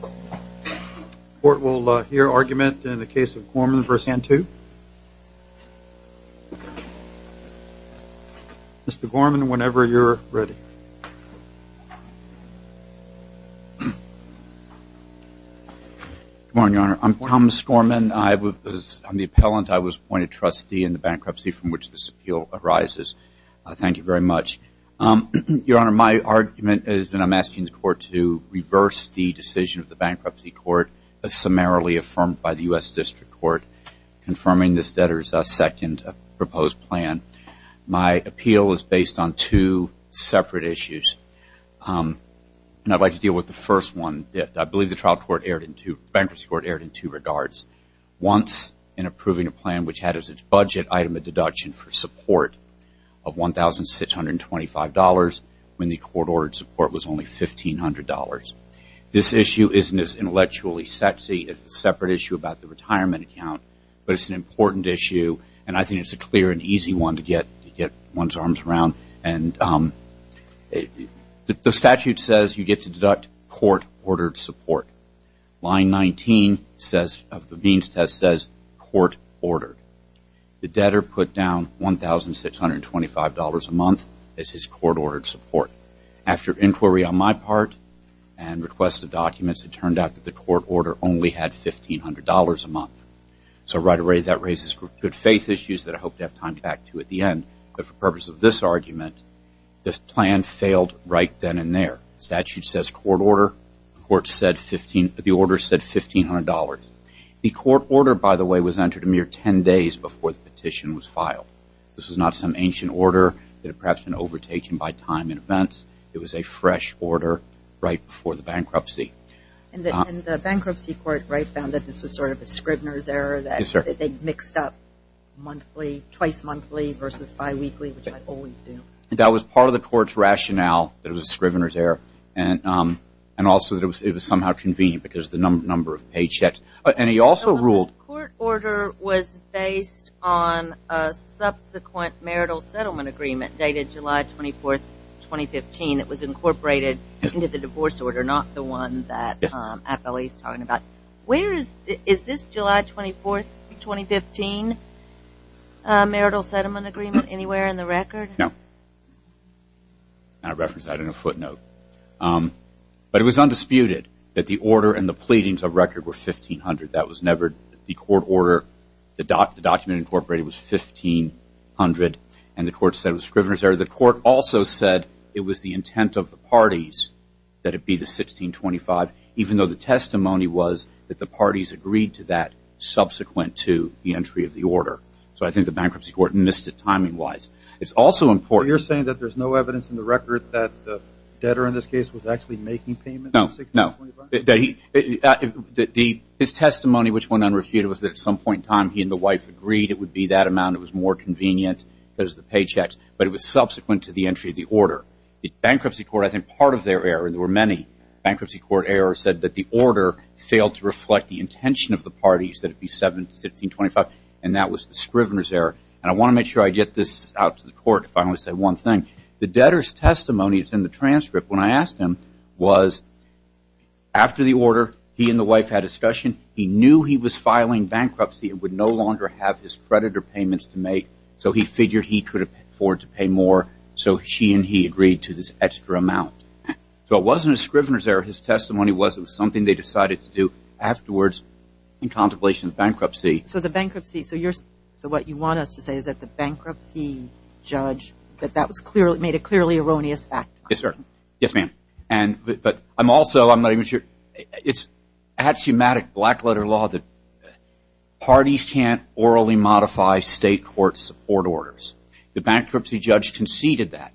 The court will hear argument in the case of Gorman v. Cantu. Mr. Gorman, whenever you're ready. Good morning, Your Honor. I'm Thomas Gorman. I'm the appellant. I was appointed trustee in the bankruptcy from which this appeal arises. Thank you very much. Your Honor, my argument is that I'm asking the court to reverse the decision of the bankruptcy court as summarily affirmed by the U.S. District Court confirming this debtor's second proposed plan. My appeal is based on two separate issues, and I'd like to deal with the first one. I believe the bankruptcy court erred in two regards. Once in approving a plan which had as its budget item a deduction for support of $1,625 when the court ordered support was only $1,500. This issue isn't as intellectually sexy as the separate issue about the retirement account, but it's an important issue, and I think it's a clear and easy one to get one's arms around. The statute says you get to deduct court-ordered support. Line 19 of the means test says court-ordered. The debtor put down $1,625 a month as his court-ordered support. After inquiry on my part and request of documents, it turned out that the court order only had $1,500 a month. So right away that raises good faith issues that I hope to have time to back to at the end. But for purpose of this argument, this plan failed right then and there. The statute says court order. The order said $1,500. The court order, by the way, was entered a mere 10 days before the petition was filed. This was not some ancient order that had perhaps been overtaken by time and events. It was a fresh order right before the bankruptcy. And the bankruptcy court found that this was sort of a Scribner's error, that they mixed up monthly, twice monthly versus biweekly, which I always do. That was part of the court's rationale, that it was a Scribner's error. And also that it was somehow convened because of the number of paychecks. And he also ruled- The court order was based on a subsequent marital settlement agreement dated July 24th, 2015. It was incorporated into the divorce order, not the one that Atbelly is talking about. Where is this July 24th, 2015 marital settlement agreement, anywhere in the record? No. I referenced that in a footnote. But it was undisputed that the order and the pleadings of record were $1,500. That was never the court order. The document incorporated was $1,500. And the court said it was Scribner's error. The court also said it was the intent of the parties that it be the $1,625, even though the testimony was that the parties agreed to that subsequent to the entry of the order. So I think the bankruptcy court missed it timing-wise. It's also important- So you're saying that there's no evidence in the record that the debtor in this case was actually making payments? No, no. His testimony, which went unrefuted, was that at some point in time he and the wife agreed it would be that amount. It was more convenient because of the paychecks. But it was subsequent to the entry of the order. The bankruptcy court, I think part of their error, and there were many bankruptcy court errors, said that the order failed to reflect the intention of the parties that it be $1,625. And that was the Scribner's error. And I want to make sure I get this out to the court if I only say one thing. The debtor's testimony is in the transcript. When I asked him was after the order, he and the wife had a discussion. He knew he was filing bankruptcy and would no longer have his creditor payments to make, so he figured he could afford to pay more. So she and he agreed to this extra amount. So it wasn't a Scribner's error. His testimony was it was something they decided to do afterwards in contemplation of bankruptcy. So the bankruptcy, so what you want us to say is that the bankruptcy judge, that that made a clearly erroneous fact. Yes, sir. Yes, ma'am. But I'm also, I'm not even sure. It's axiomatic black-letter law that parties can't orally modify state court support orders. The bankruptcy judge conceded that.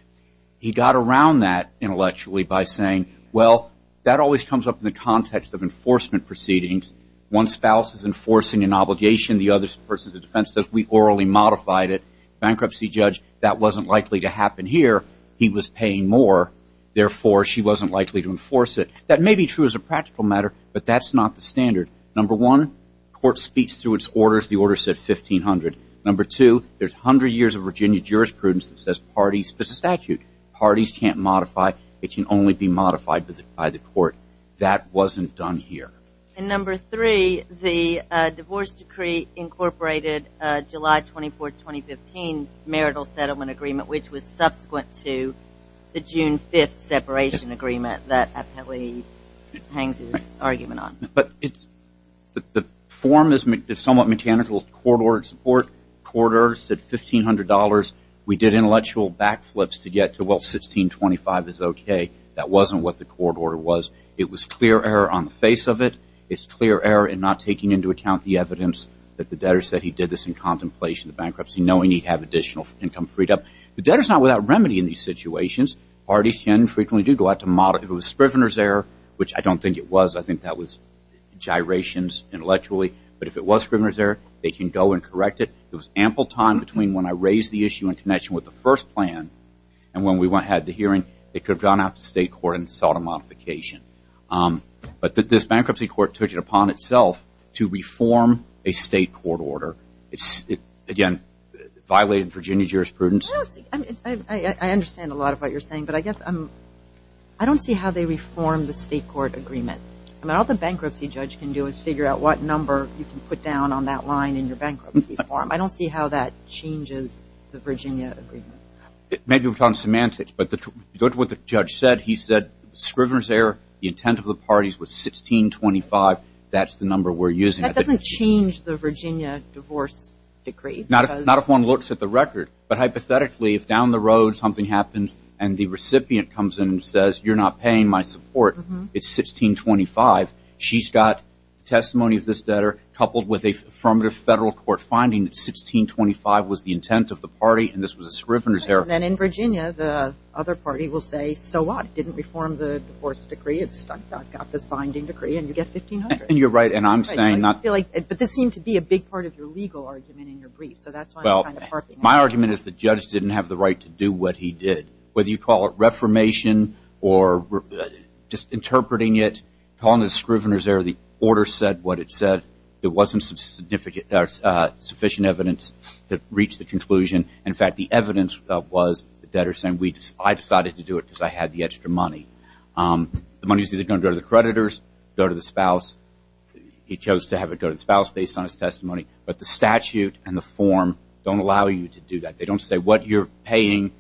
He got around that intellectually by saying, well, that always comes up in the context of enforcement proceedings. One spouse is enforcing an obligation. The other person's defense says we orally modified it. Bankruptcy judge, that wasn't likely to happen here. He was paying more. Therefore, she wasn't likely to enforce it. That may be true as a practical matter, but that's not the standard. Number one, court speaks through its orders. The order said $1,500. Number two, there's 100 years of Virginia jurisprudence that says parties, but it's a statute. Parties can't modify. It can only be modified by the court. That wasn't done here. And number three, the divorce decree incorporated July 24th, 2015, marital settlement agreement, which was subsequent to the June 5th separation agreement that Appellee hangs his argument on. But the form is somewhat mechanical. The court ordered support. The court order said $1,500. We did intellectual backflips to get to, well, 1625 is okay. That wasn't what the court order was. It was clear error on the face of it. It's clear error in not taking into account the evidence that the debtor said he did this in contemplation of bankruptcy, knowing he'd have additional income freed up. The debtor's not without remedy in these situations. Parties can and frequently do go out to modify. If it was Scrivener's error, which I don't think it was. I think that was gyrations intellectually. But if it was Scrivener's error, they can go and correct it. There was ample time between when I raised the issue in connection with the first plan and when we had the hearing, it could have gone out to state court and sought a modification. But this bankruptcy court took it upon itself to reform a state court order. Again, it violated Virginia jurisprudence. I understand a lot of what you're saying, but I guess I don't see how they reform the state court agreement. All the bankruptcy judge can do is figure out what number you can put down on that line in your bankruptcy form. I don't see how that changes the Virginia agreement. Maybe we're talking semantics, but what the judge said, he said Scrivener's error, the intent of the parties was 1625, that's the number we're using. That doesn't change the Virginia divorce decree. Not if one looks at the record. But hypothetically, if down the road something happens and the recipient comes in and says, you're not paying my support, it's 1625. She's got testimony of this debtor coupled with a federal court finding that 1625 was the intent of the party and this was a Scrivener's error. And then in Virginia, the other party will say, so what? It didn't reform the divorce decree. It's stuck. I've got this binding decree and you get 1500. And you're right, and I'm saying not. But this seemed to be a big part of your legal argument in your brief, so that's why I'm kind of harping on that. Well, my argument is the judge didn't have the right to do what he did. Whether you call it reformation or just interpreting it, calling it a Scrivener's error, the order said what it said. It wasn't sufficient evidence to reach the conclusion. In fact, the evidence was the debtor saying I decided to do it because I had the extra money. The money's either going to go to the creditors, go to the spouse. He chose to have it go to the spouse based on his testimony. But the statute and the form don't allow you to do that. They don't say what you're paying.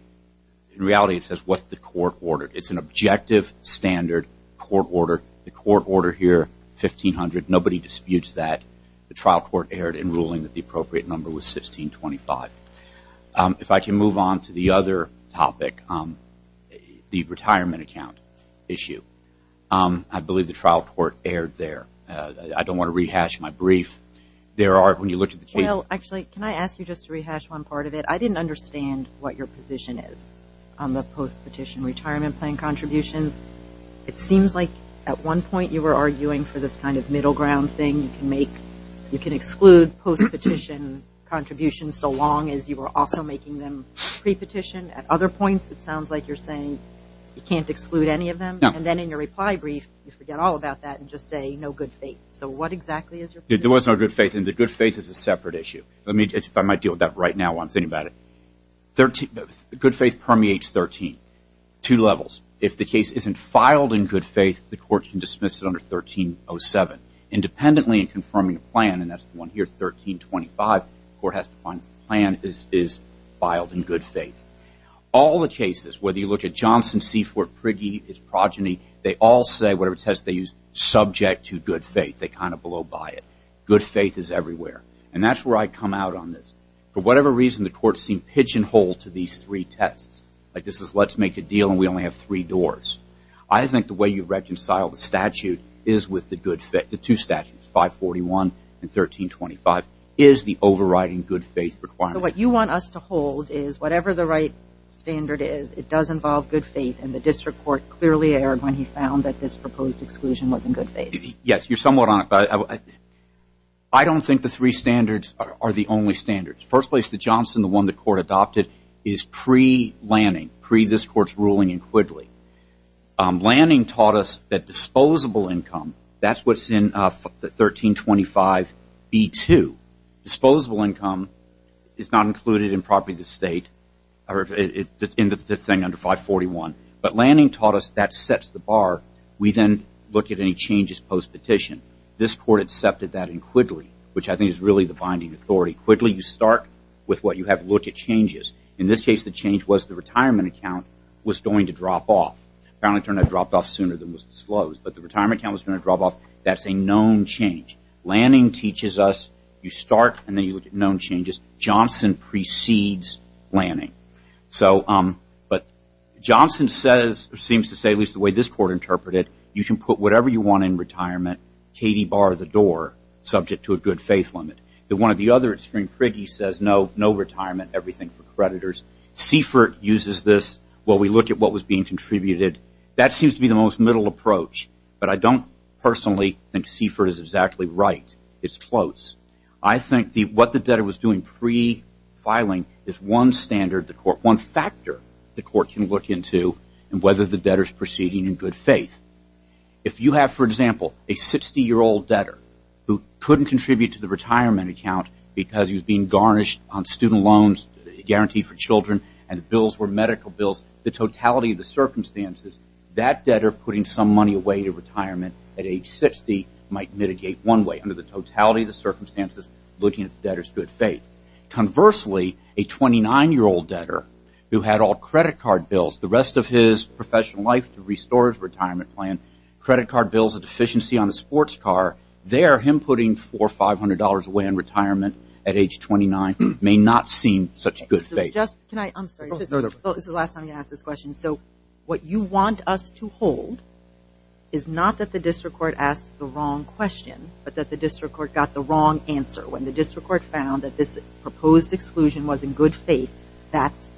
In reality, it says what the court ordered. It's an objective standard court order. The court order here, 1500. Nobody disputes that. The trial court erred in ruling that the appropriate number was 1625. If I can move on to the other topic, the retirement account issue. I believe the trial court erred there. I don't want to rehash my brief. There are, when you look at the case. Actually, can I ask you just to rehash one part of it? I didn't understand what your position is on the post-petition retirement plan contributions. It seems like at one point you were arguing for this kind of middle ground thing. You can exclude post-petition contributions so long as you were also making them pre-petition. At other points, it sounds like you're saying you can't exclude any of them. And then in your reply brief, you forget all about that and just say no good faith. So what exactly is your position? There was no good faith, and the good faith is a separate issue. If I might deal with that right now while I'm thinking about it. Good faith permeates 13. Two levels. If the case isn't filed in good faith, the court can dismiss it under 1307. Independently in confirming a plan, and that's the one here, 1325. The court has to find the plan is filed in good faith. All the cases, whether you look at Johnson, Seaford, Prigge, his progeny, they all say whatever test they use, subject to good faith. They kind of blow by it. Good faith is everywhere. And that's where I come out on this. For whatever reason, the court seemed pigeonholed to these three tests. Like this is let's make a deal and we only have three doors. I think the way you reconcile the statute is with the two statutes, 541 and 1325, is the overriding good faith requirement. So what you want us to hold is whatever the right standard is, it does involve good faith, and the district court clearly erred when he found that this proposed exclusion was in good faith. Yes, you're somewhat on it. I don't think the three standards are the only standards. The first place that Johnson, the one the court adopted, is pre-Lanning, pre-this court's ruling in Quigley. Lanning taught us that disposable income, that's what's in 1325B2. Disposable income is not included in property of the state, in the thing under 541. But Lanning taught us that sets the bar. We then look at any changes post-petition. This court accepted that in Quigley, which I think is really the binding authority. Quigley, you start with what you have to look at changes. In this case, the change was the retirement account was going to drop off. Apparently it turned out it dropped off sooner than was disclosed. But the retirement account was going to drop off. That's a known change. Lanning teaches us you start and then you look at known changes. Johnson precedes Lanning. But Johnson seems to say, at least the way this court interpreted it, you can put whatever you want in retirement, Katie, bar the door, subject to a good faith limit. The one or the other at Spring-Quigley says no, no retirement, everything for creditors. Seifert uses this. Well, we look at what was being contributed. That seems to be the most middle approach. But I don't personally think Seifert is exactly right. It's close. I think what the debtor was doing pre-filing is one standard, one factor the court can look into in whether the debtor is proceeding in good faith. If you have, for example, a 60-year-old debtor who couldn't contribute to the retirement account because he was being garnished on student loans guaranteed for children and the bills were medical bills, the totality of the circumstances, that debtor putting some money away to retirement at age 60 might mitigate one way under the totality of the circumstances looking at the debtor's good faith. Conversely, a 29-year-old debtor who had all credit card bills the rest of his professional life to restore his retirement plan, credit card bills, a deficiency on a sports car, there him putting $400 or $500 away in retirement at age 29 may not seem such good faith. Can I? I'm sorry. This is the last time you're going to ask this question. So what you want us to hold is not that the district court asked the wrong question but that the district court got the wrong answer. When the district court found that this proposed exclusion was in good faith, that's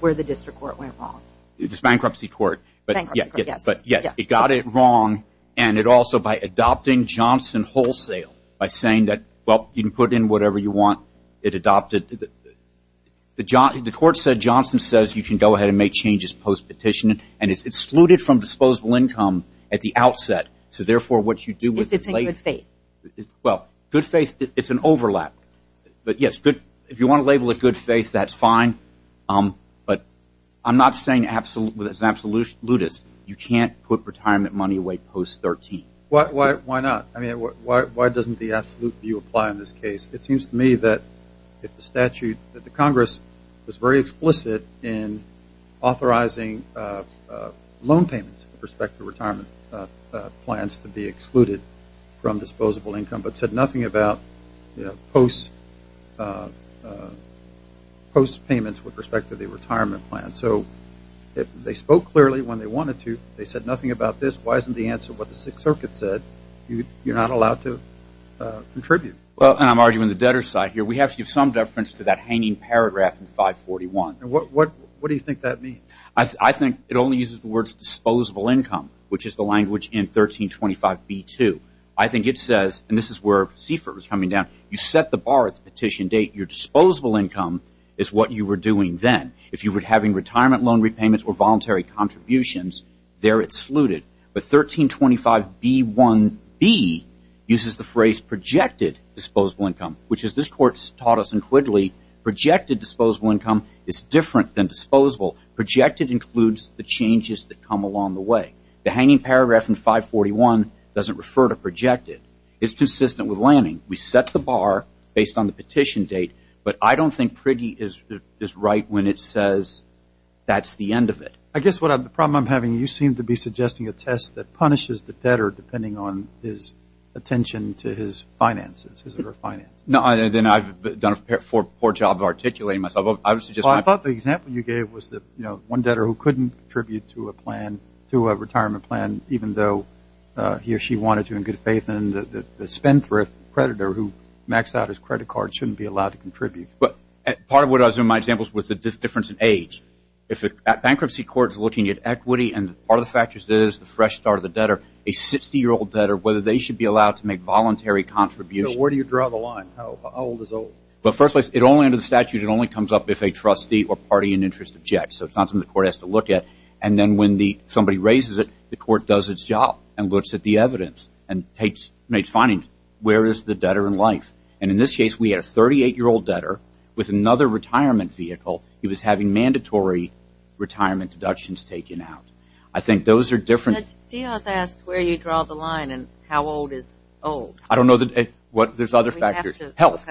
where the district court went wrong. It's bankruptcy court. Bankruptcy court, yes. But, yes, it got it wrong and it also, by adopting Johnson wholesale, by saying that, well, you can put in whatever you want, it adopted. The court said Johnson says you can go ahead and make changes post-petition and it's excluded from disposable income at the outset. So, therefore, what you do with the late... If it's in good faith. Well, good faith, it's an overlap. But, yes, if you want to label it good faith, that's fine. But I'm not saying it's absolutist. You can't put retirement money away post-13. Why not? I mean, why doesn't the absolute view apply in this case? It seems to me that if the statute that the Congress was very explicit in authorizing loan payments with respect to retirement plans to be excluded from disposable income but said nothing about post-payments with respect to the retirement plan. So, they spoke clearly when they wanted to. They said nothing about this. Why isn't the answer what the Sixth Circuit said? You're not allowed to contribute. Well, and I'm arguing the debtor's side here. We have to give some deference to that hanging paragraph in 541. What do you think that means? I think it only uses the words disposable income, which is the language in 1325b-2. I think it says, and this is where Seifert was coming down, you set the bar at the petition date. Your disposable income is what you were doing then. If you were having retirement loan repayments or voluntary contributions, there it's alluded. But 1325b-1b uses the phrase projected disposable income, which, as this Court's taught us in Quigley, projected disposable income is different than disposable. Projected includes the changes that come along the way. The hanging paragraph in 541 doesn't refer to projected. It's consistent with Lanning. We set the bar based on the petition date. But I don't think Quigley is right when it says that's the end of it. I guess the problem I'm having, you seem to be suggesting a test that punishes the debtor depending on his attention to his finances. No, then I've done a poor job of articulating myself. I thought the example you gave was one debtor who couldn't contribute to a plan, to a retirement plan, even though he or she wanted to in good faith, and the spendthrift creditor who maxed out his credit card shouldn't be allowed to contribute. Part of what I was doing in my examples was the difference in age. At bankruptcy courts looking at equity, and part of the factors is the fresh start of the debtor, a 60-year-old debtor, whether they should be allowed to make voluntary contributions. Where do you draw the line? How old is old? Well, first place, under the statute, it only comes up if a trustee or party in interest objects. So it's not something the court has to look at. And then when somebody raises it, the court does its job and looks at the evidence and makes findings. Where is the debtor in life? And in this case, we had a 38-year-old debtor with another retirement vehicle. He was having mandatory retirement deductions taken out. I think those are different. Judge Diaz asked where you draw the line and how old is old. I don't know. There's other factors. Health.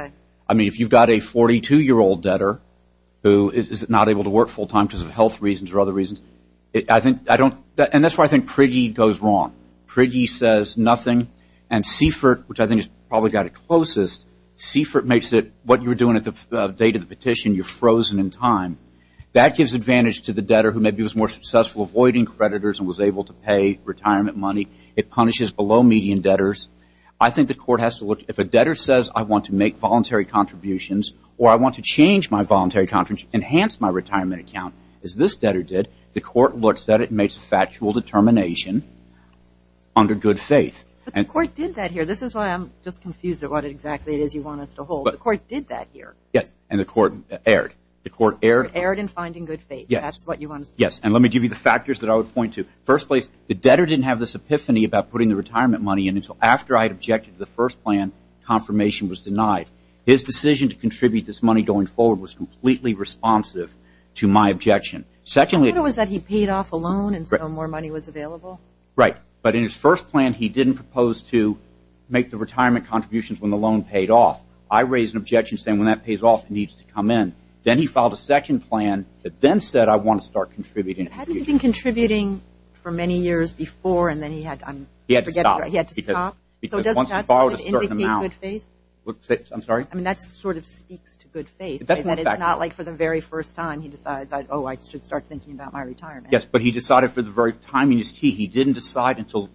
I mean, if you've got a 42-year-old debtor who is not able to work full-time because of health reasons or other reasons, and that's where I think Priggey goes wrong. Priggey says nothing, and Seifert, which I think has probably got it closest, Seifert makes it what you were doing at the date of the petition, you're frozen in time. That gives advantage to the debtor who maybe was more successful avoiding creditors and was able to pay retirement money. It punishes below-median debtors. I think the court has to look, if a debtor says I want to make voluntary contributions or I want to change my voluntary contributions, enhance my retirement account, as this debtor did, the court looks at it and makes a factual determination under good faith. But the court did that here. This is why I'm just confused at what exactly it is you want us to hold. The court did that here. Yes, and the court erred. The court erred. Erred in finding good faith. Yes. That's what you want to say. Yes, and let me give you the factors that I would point to. First place, the debtor didn't have this epiphany about putting the retirement money in until after I had objected to the first plan. Confirmation was denied. His decision to contribute this money going forward was completely responsive to my objection. The problem was that he paid off a loan and so more money was available. Right, but in his first plan, he didn't propose to make the retirement contributions when the loan paid off. I raised an objection saying when that pays off, it needs to come in. Then he filed a second plan that then said I want to start contributing. Hadn't he been contributing for many years before and then he had to stop? Right, he had to stop. So doesn't that sort of indicate good faith? I'm sorry? I mean that sort of speaks to good faith. It does in fact. It's not like for the very first time he decides, oh, I should start thinking about my retirement. Yes, but he decided for the very time he didn't decide until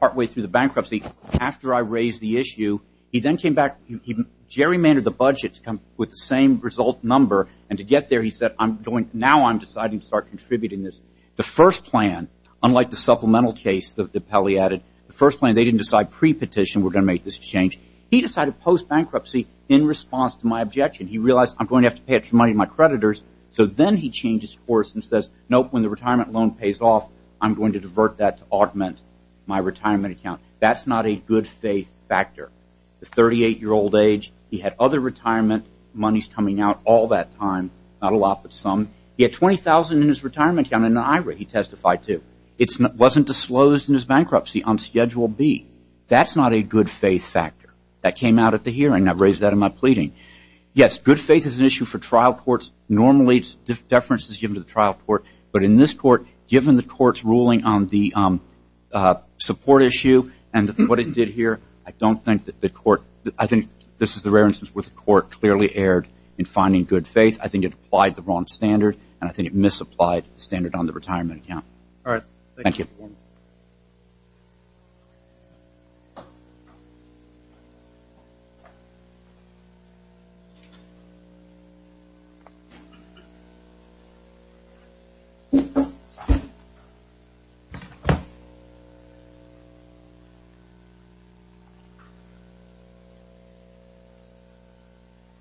partway through the bankruptcy. After I raised the issue, he then came back. He gerrymandered the budget to come with the same result number and to get there, he said now I'm deciding to start contributing this. The first plan, unlike the supplemental case that Pelley added, the first plan they didn't decide pre-petition we're going to make this change. He decided post-bankruptcy in response to my objection. He realized I'm going to have to pay it to my creditors. So then he changed his course and says nope, when the retirement loan pays off, I'm going to divert that to augment my retirement account. That's not a good faith factor. The 38-year-old age, he had other retirement monies coming out all that time, not a lot but some. He had $20,000 in his retirement account in an IRA he testified to. It wasn't the slows in his bankruptcy on Schedule B. That's not a good faith factor. That came out at the hearing. I've raised that in my pleading. Yes, good faith is an issue for trial courts. Normally deference is given to the trial court, but in this court, given the court's ruling on the support issue and what it did here, I don't think that the court, I think this is the rare instance where the court clearly erred in finding good faith. I think it applied the wrong standard and I think it misapplied the standard on the retirement account. Thank you. Good morning. Good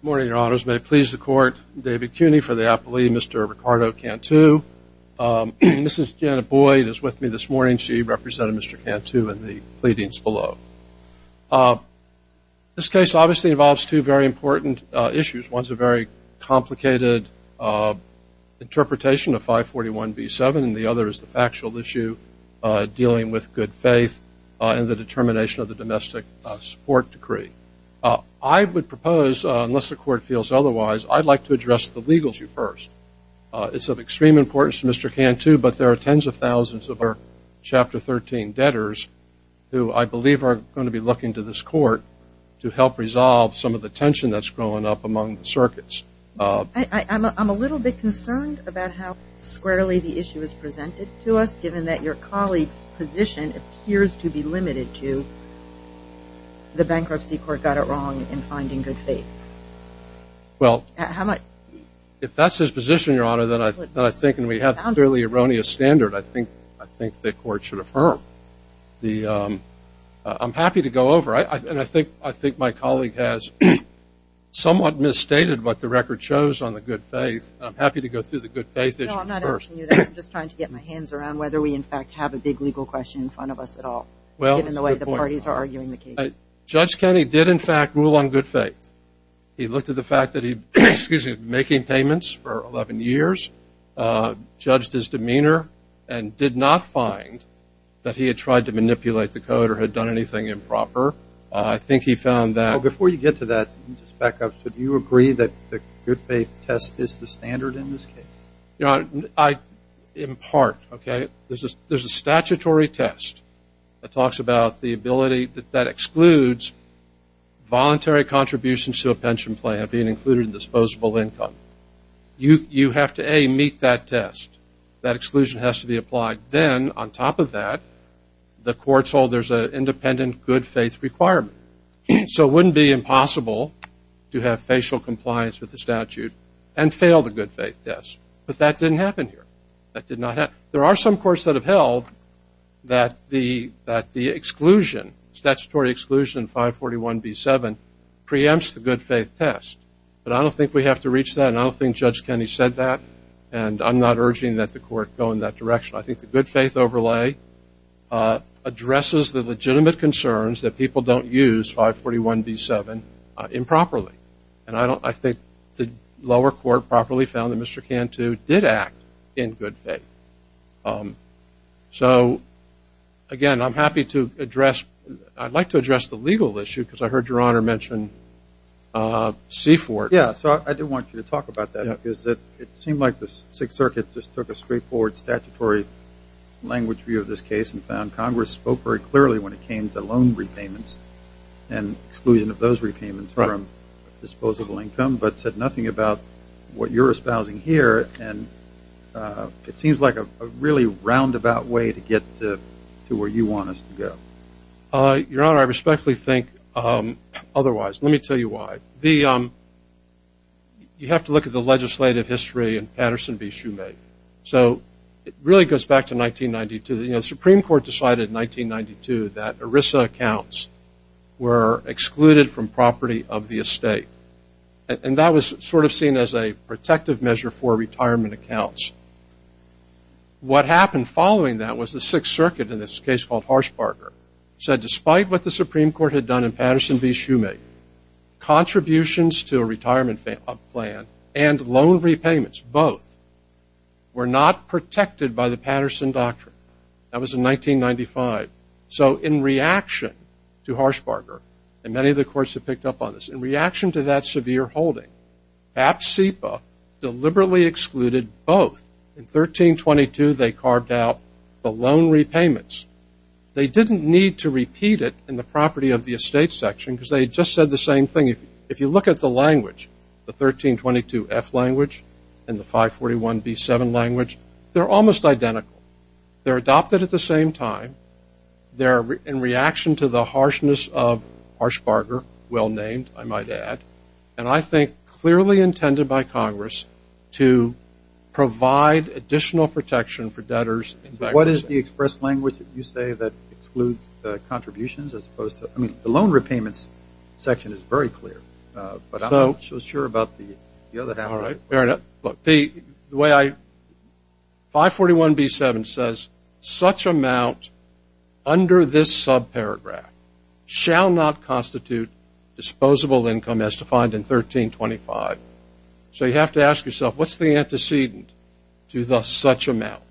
morning, Your Honors. May it please the court, David Cuny for the appellee, Mr. Ricardo Cantu. This is Janet Boyd who is with me this morning. She represented Mr. Cantu in the pleadings below. This case obviously involves two very important issues. One is a very complicated interpretation of 541B7 and the other is the factual issue dealing with good faith and the determination of the domestic support decree. I would propose, unless the court feels otherwise, I'd like to address the legal issue first. It's of extreme importance to Mr. Cantu, but there are tens of thousands of our Chapter 13 debtors who I believe are going to be looking to this court to help resolve some of the tension that's growing up among the circuits. I'm a little bit concerned about how squarely the issue is presented to us, given that your colleague's position appears to be limited to the bankruptcy court got it wrong in finding good faith. Well, if that's his position, Your Honor, then I think we have a fairly erroneous standard. I think the court should affirm. I'm happy to go over. I think my colleague has somewhat misstated what the record shows on the good faith. I'm happy to go through the good faith issue first. No, I'm not asking you that. I'm just trying to get my hands around whether we in fact have a big legal question in front of us at all, given the way the parties are arguing the case. Judge Kennedy did, in fact, rule on good faith. He looked at the fact that he had been making payments for 11 years, judged his demeanor, and did not find that he had tried to manipulate the code or had done anything improper. I think he found that. Before you get to that, let me just back up. Do you agree that the good faith test is the standard in this case? In part, okay. There's a statutory test that talks about the ability that excludes voluntary contributions to a pension plan being included in disposable income. You have to, A, meet that test. That exclusion has to be applied. Then, on top of that, the courts hold there's an independent good faith requirement. So it wouldn't be impossible to have facial compliance with the statute and fail the good faith test. But that didn't happen here. There are some courts that have held that the exclusion, statutory exclusion, 541B7, preempts the good faith test. But I don't think we have to reach that, and I don't think Judge Kennedy said that, and I'm not urging that the court go in that direction. I think the good faith overlay addresses the legitimate concerns that people don't use 541B7 improperly. And I think the lower court properly found that Mr. Cantu did act in good faith. So, again, I'm happy to address. I'd like to address the legal issue because I heard Your Honor mention Seaford. Yeah, so I do want you to talk about that. It seemed like the Sixth Circuit just took a straightforward statutory language view of this case and found Congress spoke very clearly when it came to loan repayments and exclusion of those repayments from disposable income, but said nothing about what you're espousing here. And it seems like a really roundabout way to get to where you want us to go. Your Honor, I respectfully think otherwise. Let me tell you why. You have to look at the legislative history in Patterson v. Shumate. So it really goes back to 1992. The Supreme Court decided in 1992 that ERISA accounts were excluded from property of the estate. And that was sort of seen as a protective measure for retirement accounts. What happened following that was the Sixth Circuit, in this case called Harshbarger, said despite what the Supreme Court had done in Patterson v. Shumate, contributions to a retirement plan and loan repayments, both, were not protected by the Patterson Doctrine. That was in 1995. So in reaction to Harshbarger, and many of the courts have picked up on this, in reaction to that severe holding, PAP-CEPA deliberately excluded both. In 1322, they carved out the loan repayments. They didn't need to repeat it in the property of the estate section because they had just said the same thing. If you look at the language, the 1322-F language and the 541-B-7 language, they're almost identical. They're adopted at the same time. They're in reaction to the harshness of Harshbarger, well-named, I might add, and I think clearly intended by Congress to provide additional protection for debtors. What is the express language that you say that excludes contributions as opposed to – I mean, the loan repayments section is very clear, but I'm not so sure about the other half. All right. Fair enough. Look, the way I – 541-B-7 says, such amount under this subparagraph shall not constitute disposable income as defined in 1325. So you have to ask yourself, what's the antecedent to the such amount?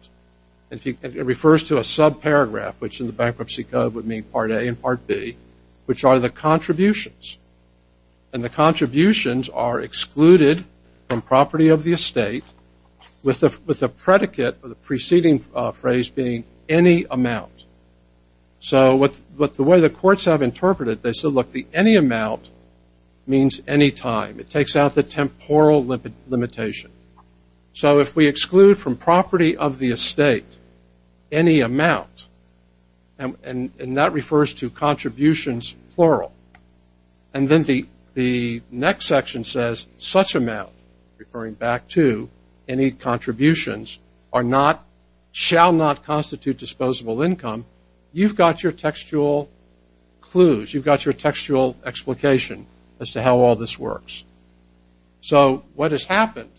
And it refers to a subparagraph, which in the Bankruptcy Code would mean Part A and Part B, which are the contributions. And the contributions are excluded from property of the estate with the predicate of the preceding phrase being any amount. So the way the courts have interpreted it, they said, look, the any amount means any time. It takes out the temporal limitation. So if we exclude from property of the estate any amount, and that refers to contributions plural, and then the next section says such amount, referring back to any contributions, are not – shall not constitute disposable income, you've got your textual clues. You've got your textual explication as to how all this works. So what has happened,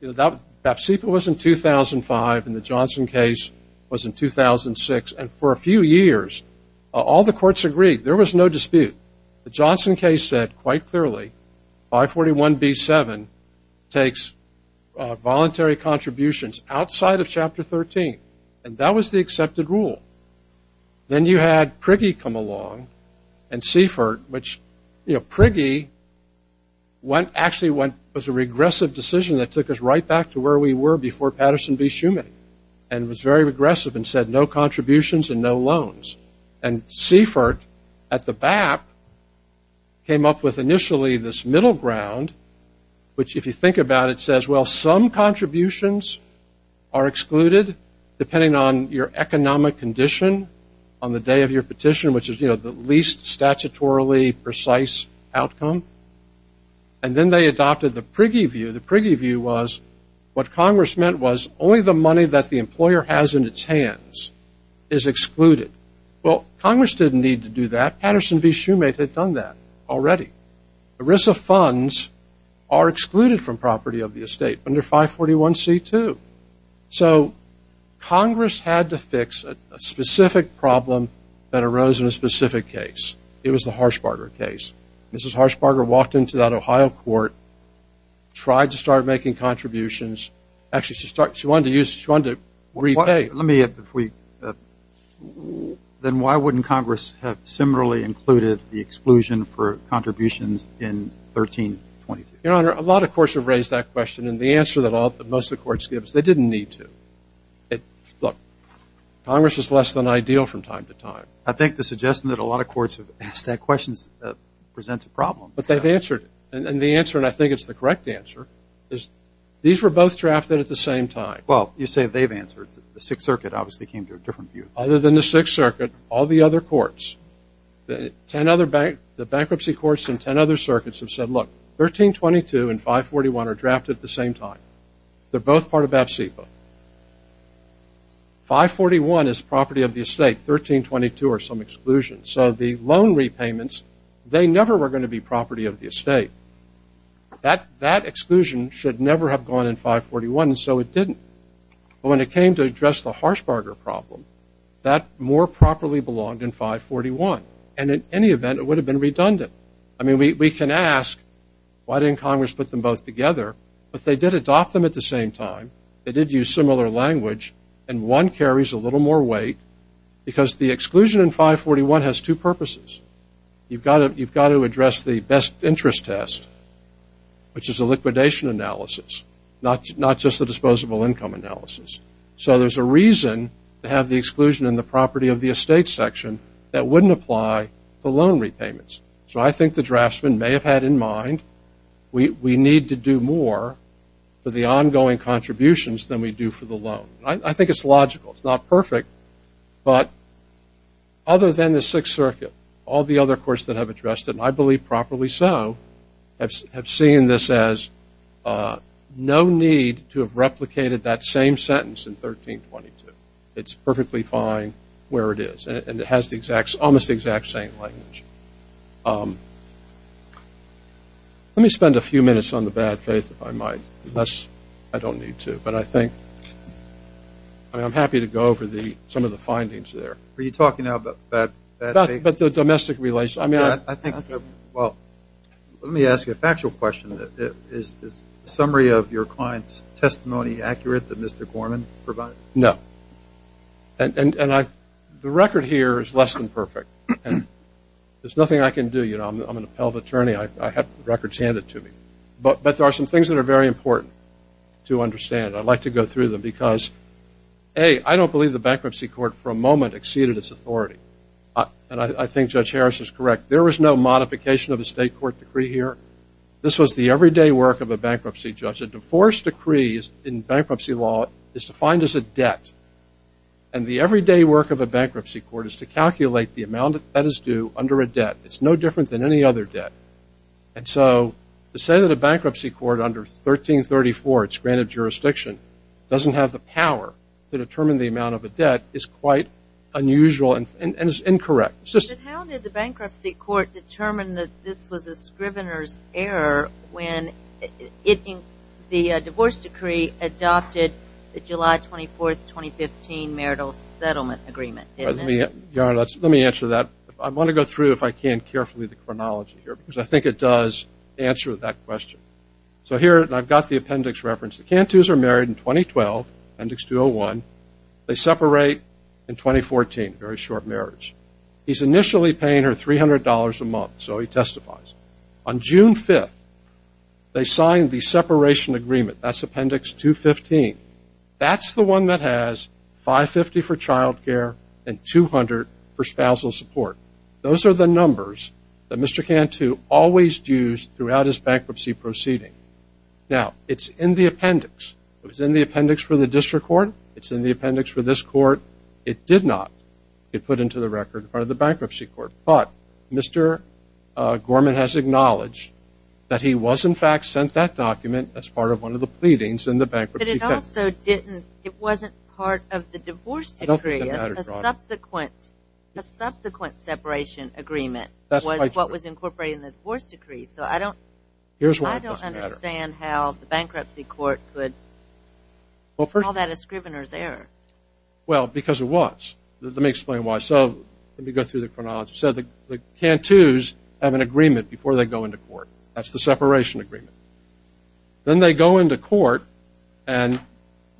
you know, BAPSIPA was in 2005 and the Johnson case was in 2006, and for a few years all the courts agreed. There was no dispute. The Johnson case said quite clearly 541-B-7 takes voluntary contributions outside of Chapter 13, and that was the accepted rule. Then you had Prigge come along and Seifert, which, you know, Prigge actually was a regressive decision that took us right back to where we were before Patterson v. Schumann and was very regressive and said no contributions and no loans. And Seifert at the BAP came up with initially this middle ground, which if you think about it, as well some contributions are excluded depending on your economic condition on the day of your petition, which is, you know, the least statutorily precise outcome. And then they adopted the Prigge view. The Prigge view was what Congress meant was only the money that the employer has in its hands is excluded. Well, Congress didn't need to do that. Patterson v. Schumann had done that already. The risk of funds are excluded from property of the estate under 541-C-2. So Congress had to fix a specific problem that arose in a specific case. It was the Harshbarger case. Mrs. Harshbarger walked into that Ohio court, tried to start making contributions. Actually, she wanted to repay. Let me, if we, then why wouldn't Congress have similarly included the exclusion for contributions in 1322? Your Honor, a lot of courts have raised that question. And the answer that most of the courts give is they didn't need to. Look, Congress is less than ideal from time to time. I think the suggestion that a lot of courts have asked that question presents a problem. But they've answered it. And the answer, and I think it's the correct answer, is these were both drafted at the same time. Well, you say they've answered. The Sixth Circuit obviously came to a different view. Other than the Sixth Circuit, all the other courts, the bankruptcy courts and ten other circuits have said, look, 1322 and 541 are drafted at the same time. They're both part of that CIPA. 541 is property of the estate. 1322 are some exclusion. So the loan repayments, they never were going to be property of the estate. That exclusion should never have gone in 541, and so it didn't. But when it came to address the Harshbarger problem, that more properly belonged in 541. And in any event, it would have been redundant. I mean, we can ask, why didn't Congress put them both together? But they did adopt them at the same time. They did use similar language. And one carries a little more weight because the exclusion in 541 has two purposes. You've got to address the best interest test, which is a liquidation analysis, not just a disposable income analysis. So there's a reason to have the exclusion in the property of the estate section that wouldn't apply to loan repayments. So I think the draftsmen may have had in mind we need to do more for the ongoing contributions than we do for the loan. I think it's logical. It's not perfect. But other than the Sixth Circuit, all the other courts that have addressed it, and I believe properly so, have seen this as no need to have replicated that same sentence in 1322. It's perfectly fine where it is, and it has almost the exact same language. Let me spend a few minutes on the bad faith, if I might, unless I don't need to. But I think I'm happy to go over some of the findings there. Are you talking now about bad faith? But the domestic relation. I think, well, let me ask you a factual question. Is the summary of your client's testimony accurate that Mr. Gorman provided? No. And the record here is less than perfect. There's nothing I can do. I'm an appellate attorney. I have records handed to me. But there are some things that are very important to understand. I'd like to go through them because, A, I don't believe the bankruptcy court for a moment exceeded its authority. And I think Judge Harris is correct. There was no modification of a state court decree here. This was the everyday work of a bankruptcy judge. A divorce decree in bankruptcy law is defined as a debt. And the everyday work of a bankruptcy court is to calculate the amount that is due under a debt. It's no different than any other debt. And so to say that a bankruptcy court under 1334, it's granted jurisdiction, doesn't have the power to determine the amount of a debt is quite unusual and is incorrect. But how did the bankruptcy court determine that this was a scrivener's error when the divorce decree adopted the July 24, 2015 marital settlement agreement? Let me answer that. I want to go through, if I can, carefully the chronology here because I think it does answer that question. So here I've got the appendix reference. The Cantus are married in 2012, appendix 201. They separate in 2014, a very short marriage. He's initially paying her $300 a month, so he testifies. On June 5th, they sign the separation agreement. That's appendix 215. That's the one that has 550 for child care and 200 for spousal support. Those are the numbers that Mr. Cantu always used throughout his bankruptcy proceeding. Now, it's in the appendix. It was in the appendix for the district court. It's in the appendix for this court. It did not get put into the record by the bankruptcy court. But Mr. Gorman has acknowledged that he was, in fact, But it also didn't, it wasn't part of the divorce decree. A subsequent separation agreement was what was incorporated in the divorce decree. So I don't understand how the bankruptcy court could call that a scrivener's error. Well, because it was. Let me explain why. So let me go through the chronology. So the Cantus have an agreement before they go into court. That's the separation agreement. Then they go into court, and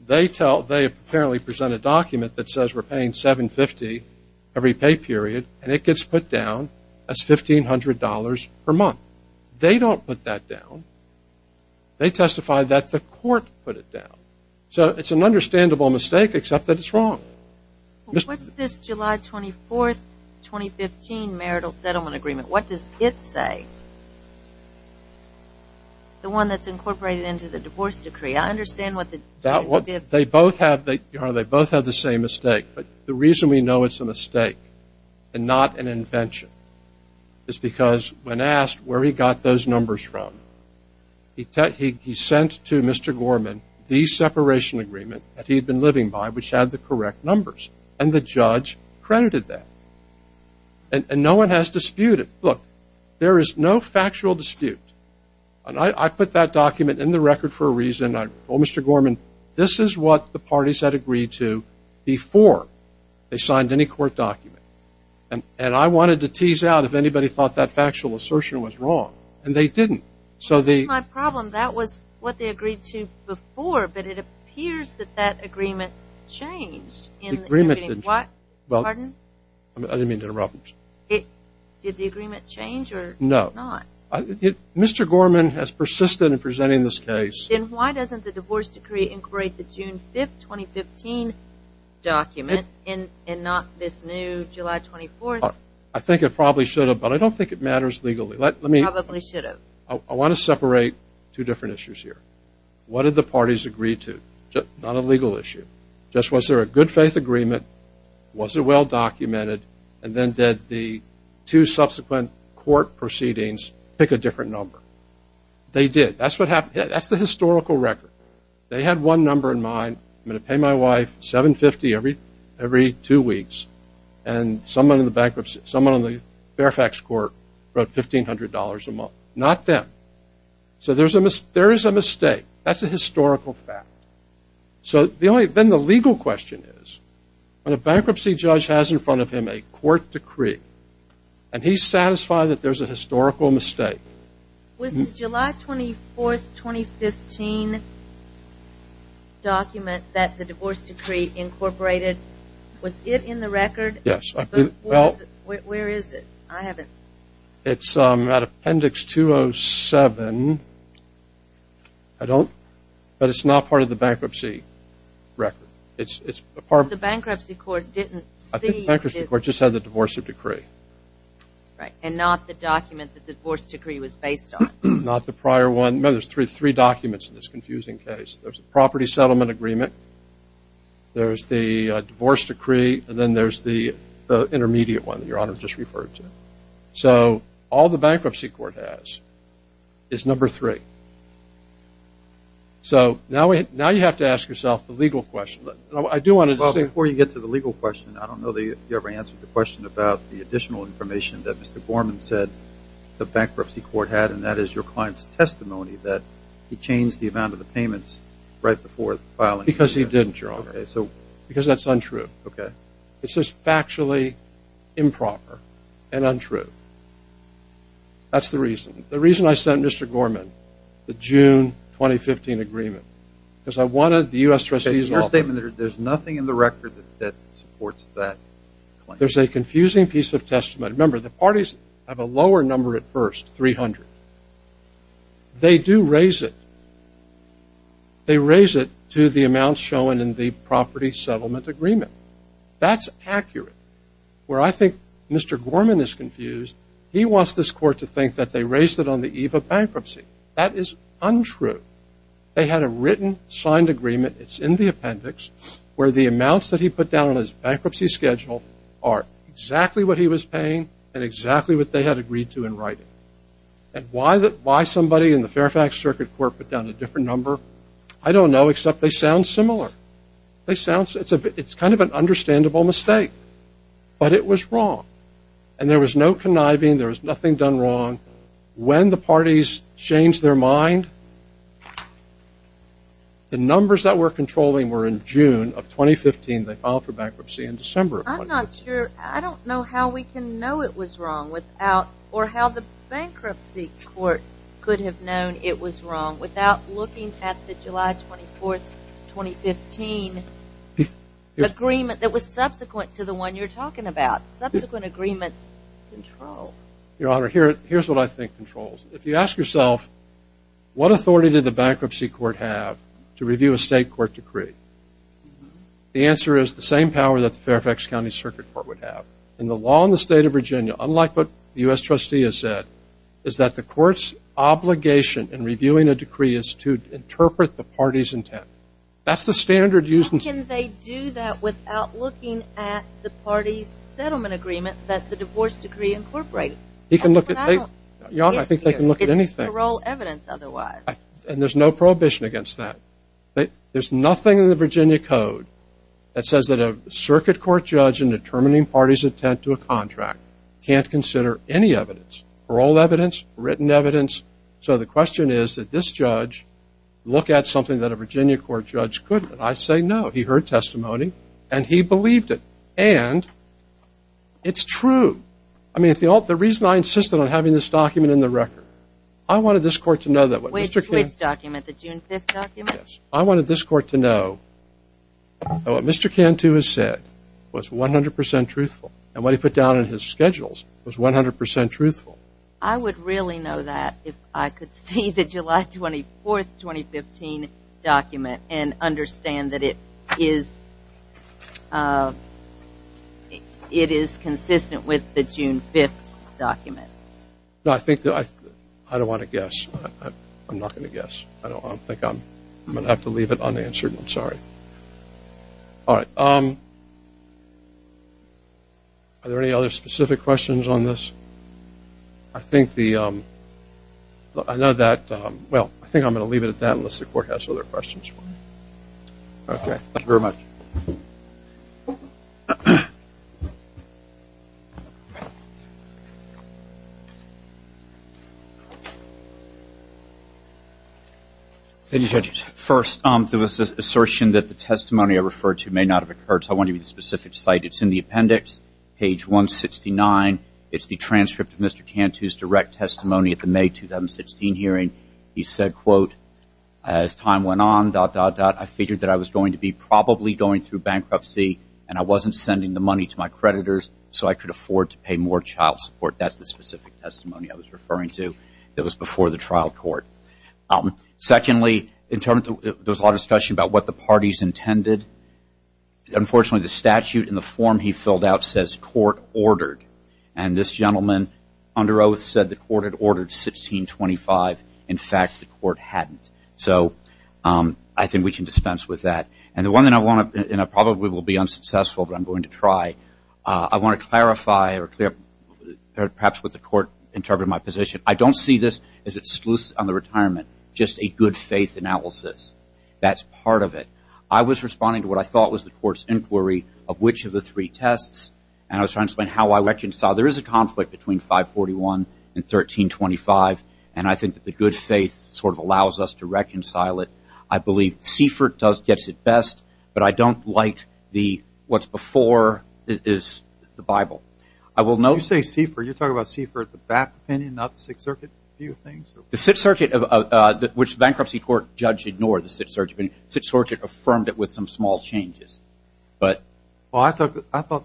they apparently present a document that says we're paying $750 every pay period, and it gets put down as $1,500 per month. They don't put that down. They testify that the court put it down. So it's an understandable mistake, except that it's wrong. What's this July 24th, 2015 marital settlement agreement? What does it say? The one that's incorporated into the divorce decree. I understand what the difference is. They both have the same mistake, but the reason we know it's a mistake and not an invention is because when asked where he got those numbers from, he sent to Mr. Gorman the separation agreement that he had been living by, which had the correct numbers, and the judge credited that. And no one has disputed it. Look, there is no factual dispute. I put that document in the record for a reason. I told Mr. Gorman, this is what the parties had agreed to before they signed any court document. And I wanted to tease out if anybody thought that factual assertion was wrong, and they didn't. Well, that's my problem. That was what they agreed to before, but it appears that that agreement changed. Pardon? I didn't mean to interrupt. Did the agreement change or not? No. Mr. Gorman has persisted in presenting this case. Then why doesn't the divorce decree incorporate the June 5th, 2015 document and not this new July 24th? I think it probably should have, but I don't think it matters legally. It probably should have. I want to separate two different issues here. What did the parties agree to? Not a legal issue. Just was there a good-faith agreement, was it well-documented, and then did the two subsequent court proceedings pick a different number? They did. That's the historical record. They had one number in mind, I'm going to pay my wife $750 every two weeks, and someone in the Fairfax court wrote $1,500 a month. Not them. So there is a mistake. That's a historical fact. Then the legal question is, when a bankruptcy judge has in front of him a court decree and he's satisfied that there's a historical mistake. Was the July 24th, 2015 document that the divorce decree incorporated, was it in the record? Yes. Where is it? I haven't. It's at Appendix 207. I don't, but it's not part of the bankruptcy record. The bankruptcy court didn't see. I think the bankruptcy court just had the divorce decree. Right, and not the document that the divorce decree was based on. Not the prior one. Remember, there's three documents in this confusing case. There's a property settlement agreement, there's the divorce decree, and then there's the intermediate one that Your Honor just referred to. So all the bankruptcy court has is number three. So now you have to ask yourself the legal question. Before you get to the legal question, I don't know that you ever answered the question about the additional information that Mr. Gorman said the bankruptcy court had, and that is your client's testimony that he changed the amount of the payments right before filing. Because he didn't, Your Honor. Because that's untrue. Okay. It's just factually improper and untrue. That's the reason. The reason I sent Mr. Gorman the June 2015 agreement, because I wanted the U.S. trustees all to know. There's nothing in the record that supports that claim. There's a confusing piece of testimony. Remember, the parties have a lower number at first, 300. They do raise it. They raise it to the amount shown in the property settlement agreement. That's accurate. Where I think Mr. Gorman is confused, he wants this court to think that they raised it on the eve of bankruptcy. That is untrue. They had a written signed agreement, it's in the appendix, where the amounts that he put down on his bankruptcy schedule are exactly what he was paying and exactly what they had agreed to in writing. And why somebody in the Fairfax Circuit Court put down a different number, I don't know, except they sound similar. It's kind of an understandable mistake. But it was wrong. And there was no conniving. There was nothing done wrong. When the parties changed their mind, the numbers that we're controlling were in June of 2015. They filed for bankruptcy in December of 2015. I'm not sure. I don't know how we can know it was wrong or how the bankruptcy court could have known it was wrong without looking at the July 24, 2015 agreement that was subsequent to the one you're talking about. Subsequent agreements control. Your Honor, here's what I think controls. If you ask yourself, what authority did the bankruptcy court have to review a state court decree, the answer is the same power that the Fairfax County Circuit Court would have. And the law in the state of Virginia, unlike what the U.S. trustee has said, is that the court's obligation in reviewing a decree is to interpret the party's intent. That's the standard used. How can they do that without looking at the party's settlement agreement that the divorce decree incorporated? Your Honor, I think they can look at anything. It's parole evidence otherwise. And there's no prohibition against that. There's nothing in the Virginia Code that says that a circuit court judge in determining party's intent to a contract can't consider any evidence, parole evidence, written evidence. So the question is that this judge look at something that a Virginia court judge couldn't. I say no. He heard testimony and he believed it. And it's true. I mean, the reason I insisted on having this document in the record, I wanted this court to know that. Which document? The June 5th document? Yes. I wanted this court to know that what Mr. Cantu has said was 100 percent truthful. And what he put down in his schedules was 100 percent truthful. I would really know that if I could see the July 24th, 2015 document and understand that it is consistent with the June 5th document. I don't want to guess. I'm not going to guess. I'm going to have to leave it unanswered. I'm sorry. All right. Are there any other specific questions on this? I think I'm going to leave it at that unless the court has other questions. Okay. Thank you very much. Thank you, Judge. First, there was an assertion that the testimony I referred to may not have occurred, so I want to give you the specific site. It's in the appendix, page 169. It's the transcript of Mr. Cantu's direct testimony at the May 2016 hearing. He said, quote, as time went on, dot, dot, dot, I figured that I was going to be probably going through bankruptcy and I wasn't sending the money to my creditors so I could afford to pay more child support. That's the specific testimony I was referring to that was before the trial court. Secondly, there was a lot of discussion about what the parties intended. Unfortunately, the statute in the form he filled out says court ordered, and this gentleman under oath said the court had ordered 1625. In fact, the court hadn't. So I think we can dispense with that. And the one thing I probably will be unsuccessful, but I'm going to try, I want to clarify perhaps what the court interpreted in my position. I don't see this as exclusive on the retirement, just a good faith analysis. That's part of it. I was responding to what I thought was the court's inquiry of which of the three tests, and I was trying to explain how I reconcile. There is a conflict between 541 and 1325, and I think that the good faith sort of allows us to reconcile it. I believe Seifert gets it best, but I don't like the what's before is the Bible. I will note. You say Seifert. You're talking about Seifert, the back opinion, not the Sixth Circuit view of things? The Sixth Circuit, which the bankruptcy court judge ignored the Sixth Circuit opinion. The Sixth Circuit affirmed it with some small changes. Well, I thought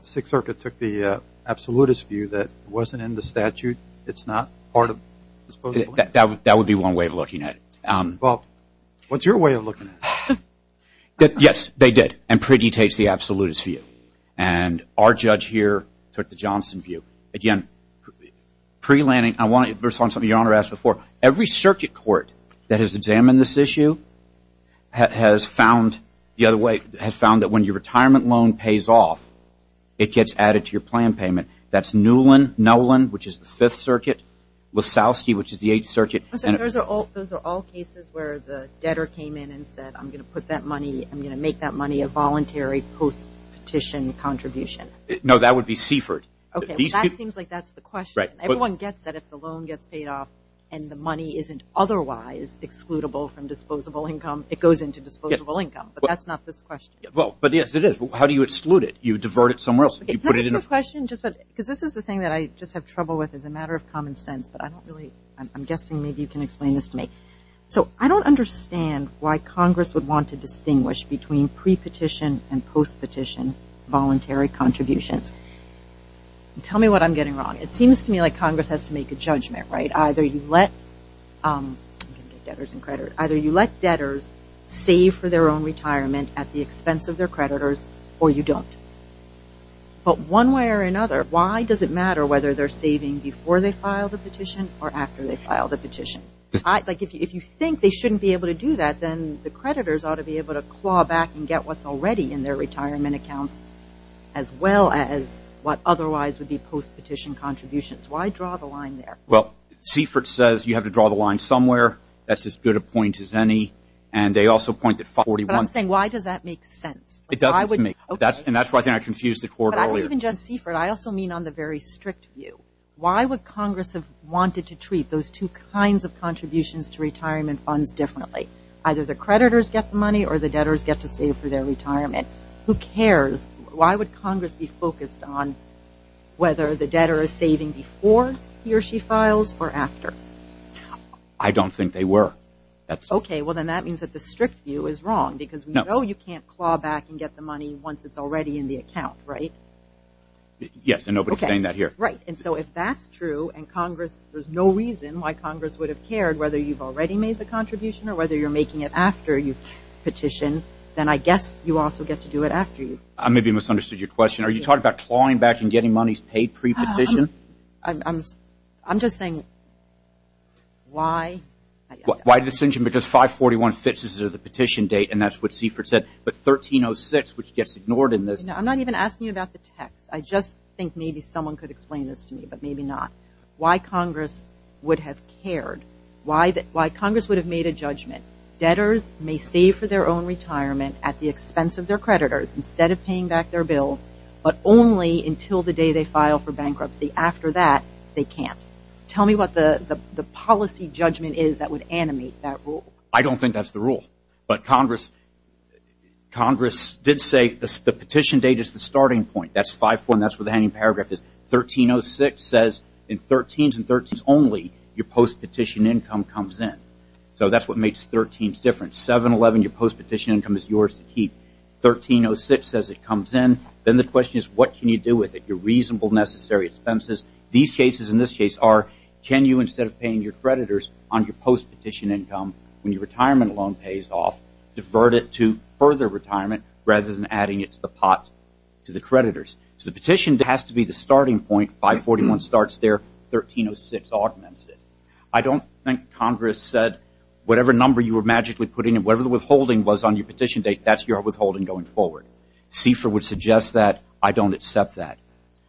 the Sixth Circuit took the absolutist view that it wasn't in the statute. It's not part of the supposedly. That would be one way of looking at it. Well, what's your way of looking at it? Yes, they did, and Priddy takes the absolutist view. And our judge here took the Johnson view. Again, pre-Lanning, I want to respond to something Your Honor asked before. Every circuit court that has examined this issue has found the other way, has found that when your retirement loan pays off, it gets added to your plan payment. That's Newland, which is the Fifth Circuit, Lasowski, which is the Eighth Circuit. Those are all cases where the debtor came in and said, I'm going to put that money, I'm going to make that money a voluntary post-petition contribution. No, that would be Seifert. That seems like that's the question. Everyone gets that if the loan gets paid off and the money isn't otherwise excludable from disposable income, it goes into disposable income, but that's not this question. Well, but yes, it is. How do you exclude it? You divert it somewhere else. Can I ask a question? Because this is the thing that I just have trouble with as a matter of common sense, but I'm guessing maybe you can explain this to me. So I don't understand why Congress would want to distinguish between pre-petition and post-petition voluntary contributions. Tell me what I'm getting wrong. It seems to me like Congress has to make a judgment, right? Either you let debtors save for their own retirement at the expense of their creditors or you don't. But one way or another, why does it matter whether they're saving before they file the petition or after they file the petition? If you think they shouldn't be able to do that, then the creditors ought to be able to claw back and get what's already in their retirement accounts as well as what otherwise would be post-petition contributions. Why draw the line there? Well, Seifert says you have to draw the line somewhere. That's as good a point as any, and they also point to 541. But I'm saying why does that make sense? It doesn't to me, and that's why I confused the court earlier. But even just Seifert, I also mean on the very strict view. Why would Congress have wanted to treat those two kinds of contributions to retirement funds differently? Either the creditors get the money or the debtors get to save for their retirement. Who cares? Why would Congress be focused on whether the debtor is saving before he or she files or after? I don't think they were. Okay, well, then that means that the strict view is wrong because we know you can't claw back and get the money once it's already in the account, right? Yes, and nobody's saying that here. Right, and so if that's true and there's no reason why Congress would have cared whether you've already made the contribution or whether you're making it after you petition, then I guess you also get to do it after you. I maybe misunderstood your question. Are you talking about clawing back and getting monies paid pre-petition? I'm just saying why? Why the decision? Because 541 fits as the petition date, and that's what Seifert said. But 1306, which gets ignored in this. I'm not even asking you about the text. I just think maybe someone could explain this to me, but maybe not. Why Congress would have cared. Why Congress would have made a judgment. Debtors may save for their own retirement at the expense of their creditors instead of paying back their bills, but only until the day they file for bankruptcy. After that, they can't. Tell me what the policy judgment is that would animate that rule. I don't think that's the rule. But Congress did say the petition date is the starting point. That's 541. That's where the handing paragraph is. 1306 says in 13s and 13s only, your post-petition income comes in. So that's what makes 13s different. 711, your post-petition income is yours to keep. 1306 says it comes in. Then the question is what can you do with it? Your reasonable necessary expenses. These cases in this case are can you instead of paying your creditors on your post-petition income when your retirement loan pays off, divert it to further retirement rather than adding it to the pot to the creditors. So the petition has to be the starting point. 541 starts there. 1306 augments it. I don't think Congress said whatever number you were magically putting in, whatever the withholding was on your petition date, that's your withholding going forward. CFER would suggest that. I don't accept that.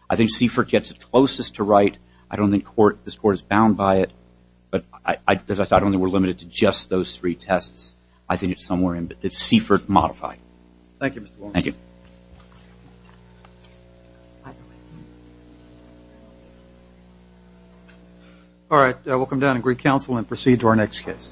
I think CFER gets it closest to right. I don't think this court is bound by it. But as I said, I don't think we're limited to just those three tests. I think it's somewhere in there. It's CFER modified. Thank you, Mr. Warner. Thank you. All right. We'll come down and greet counsel and proceed to our next case.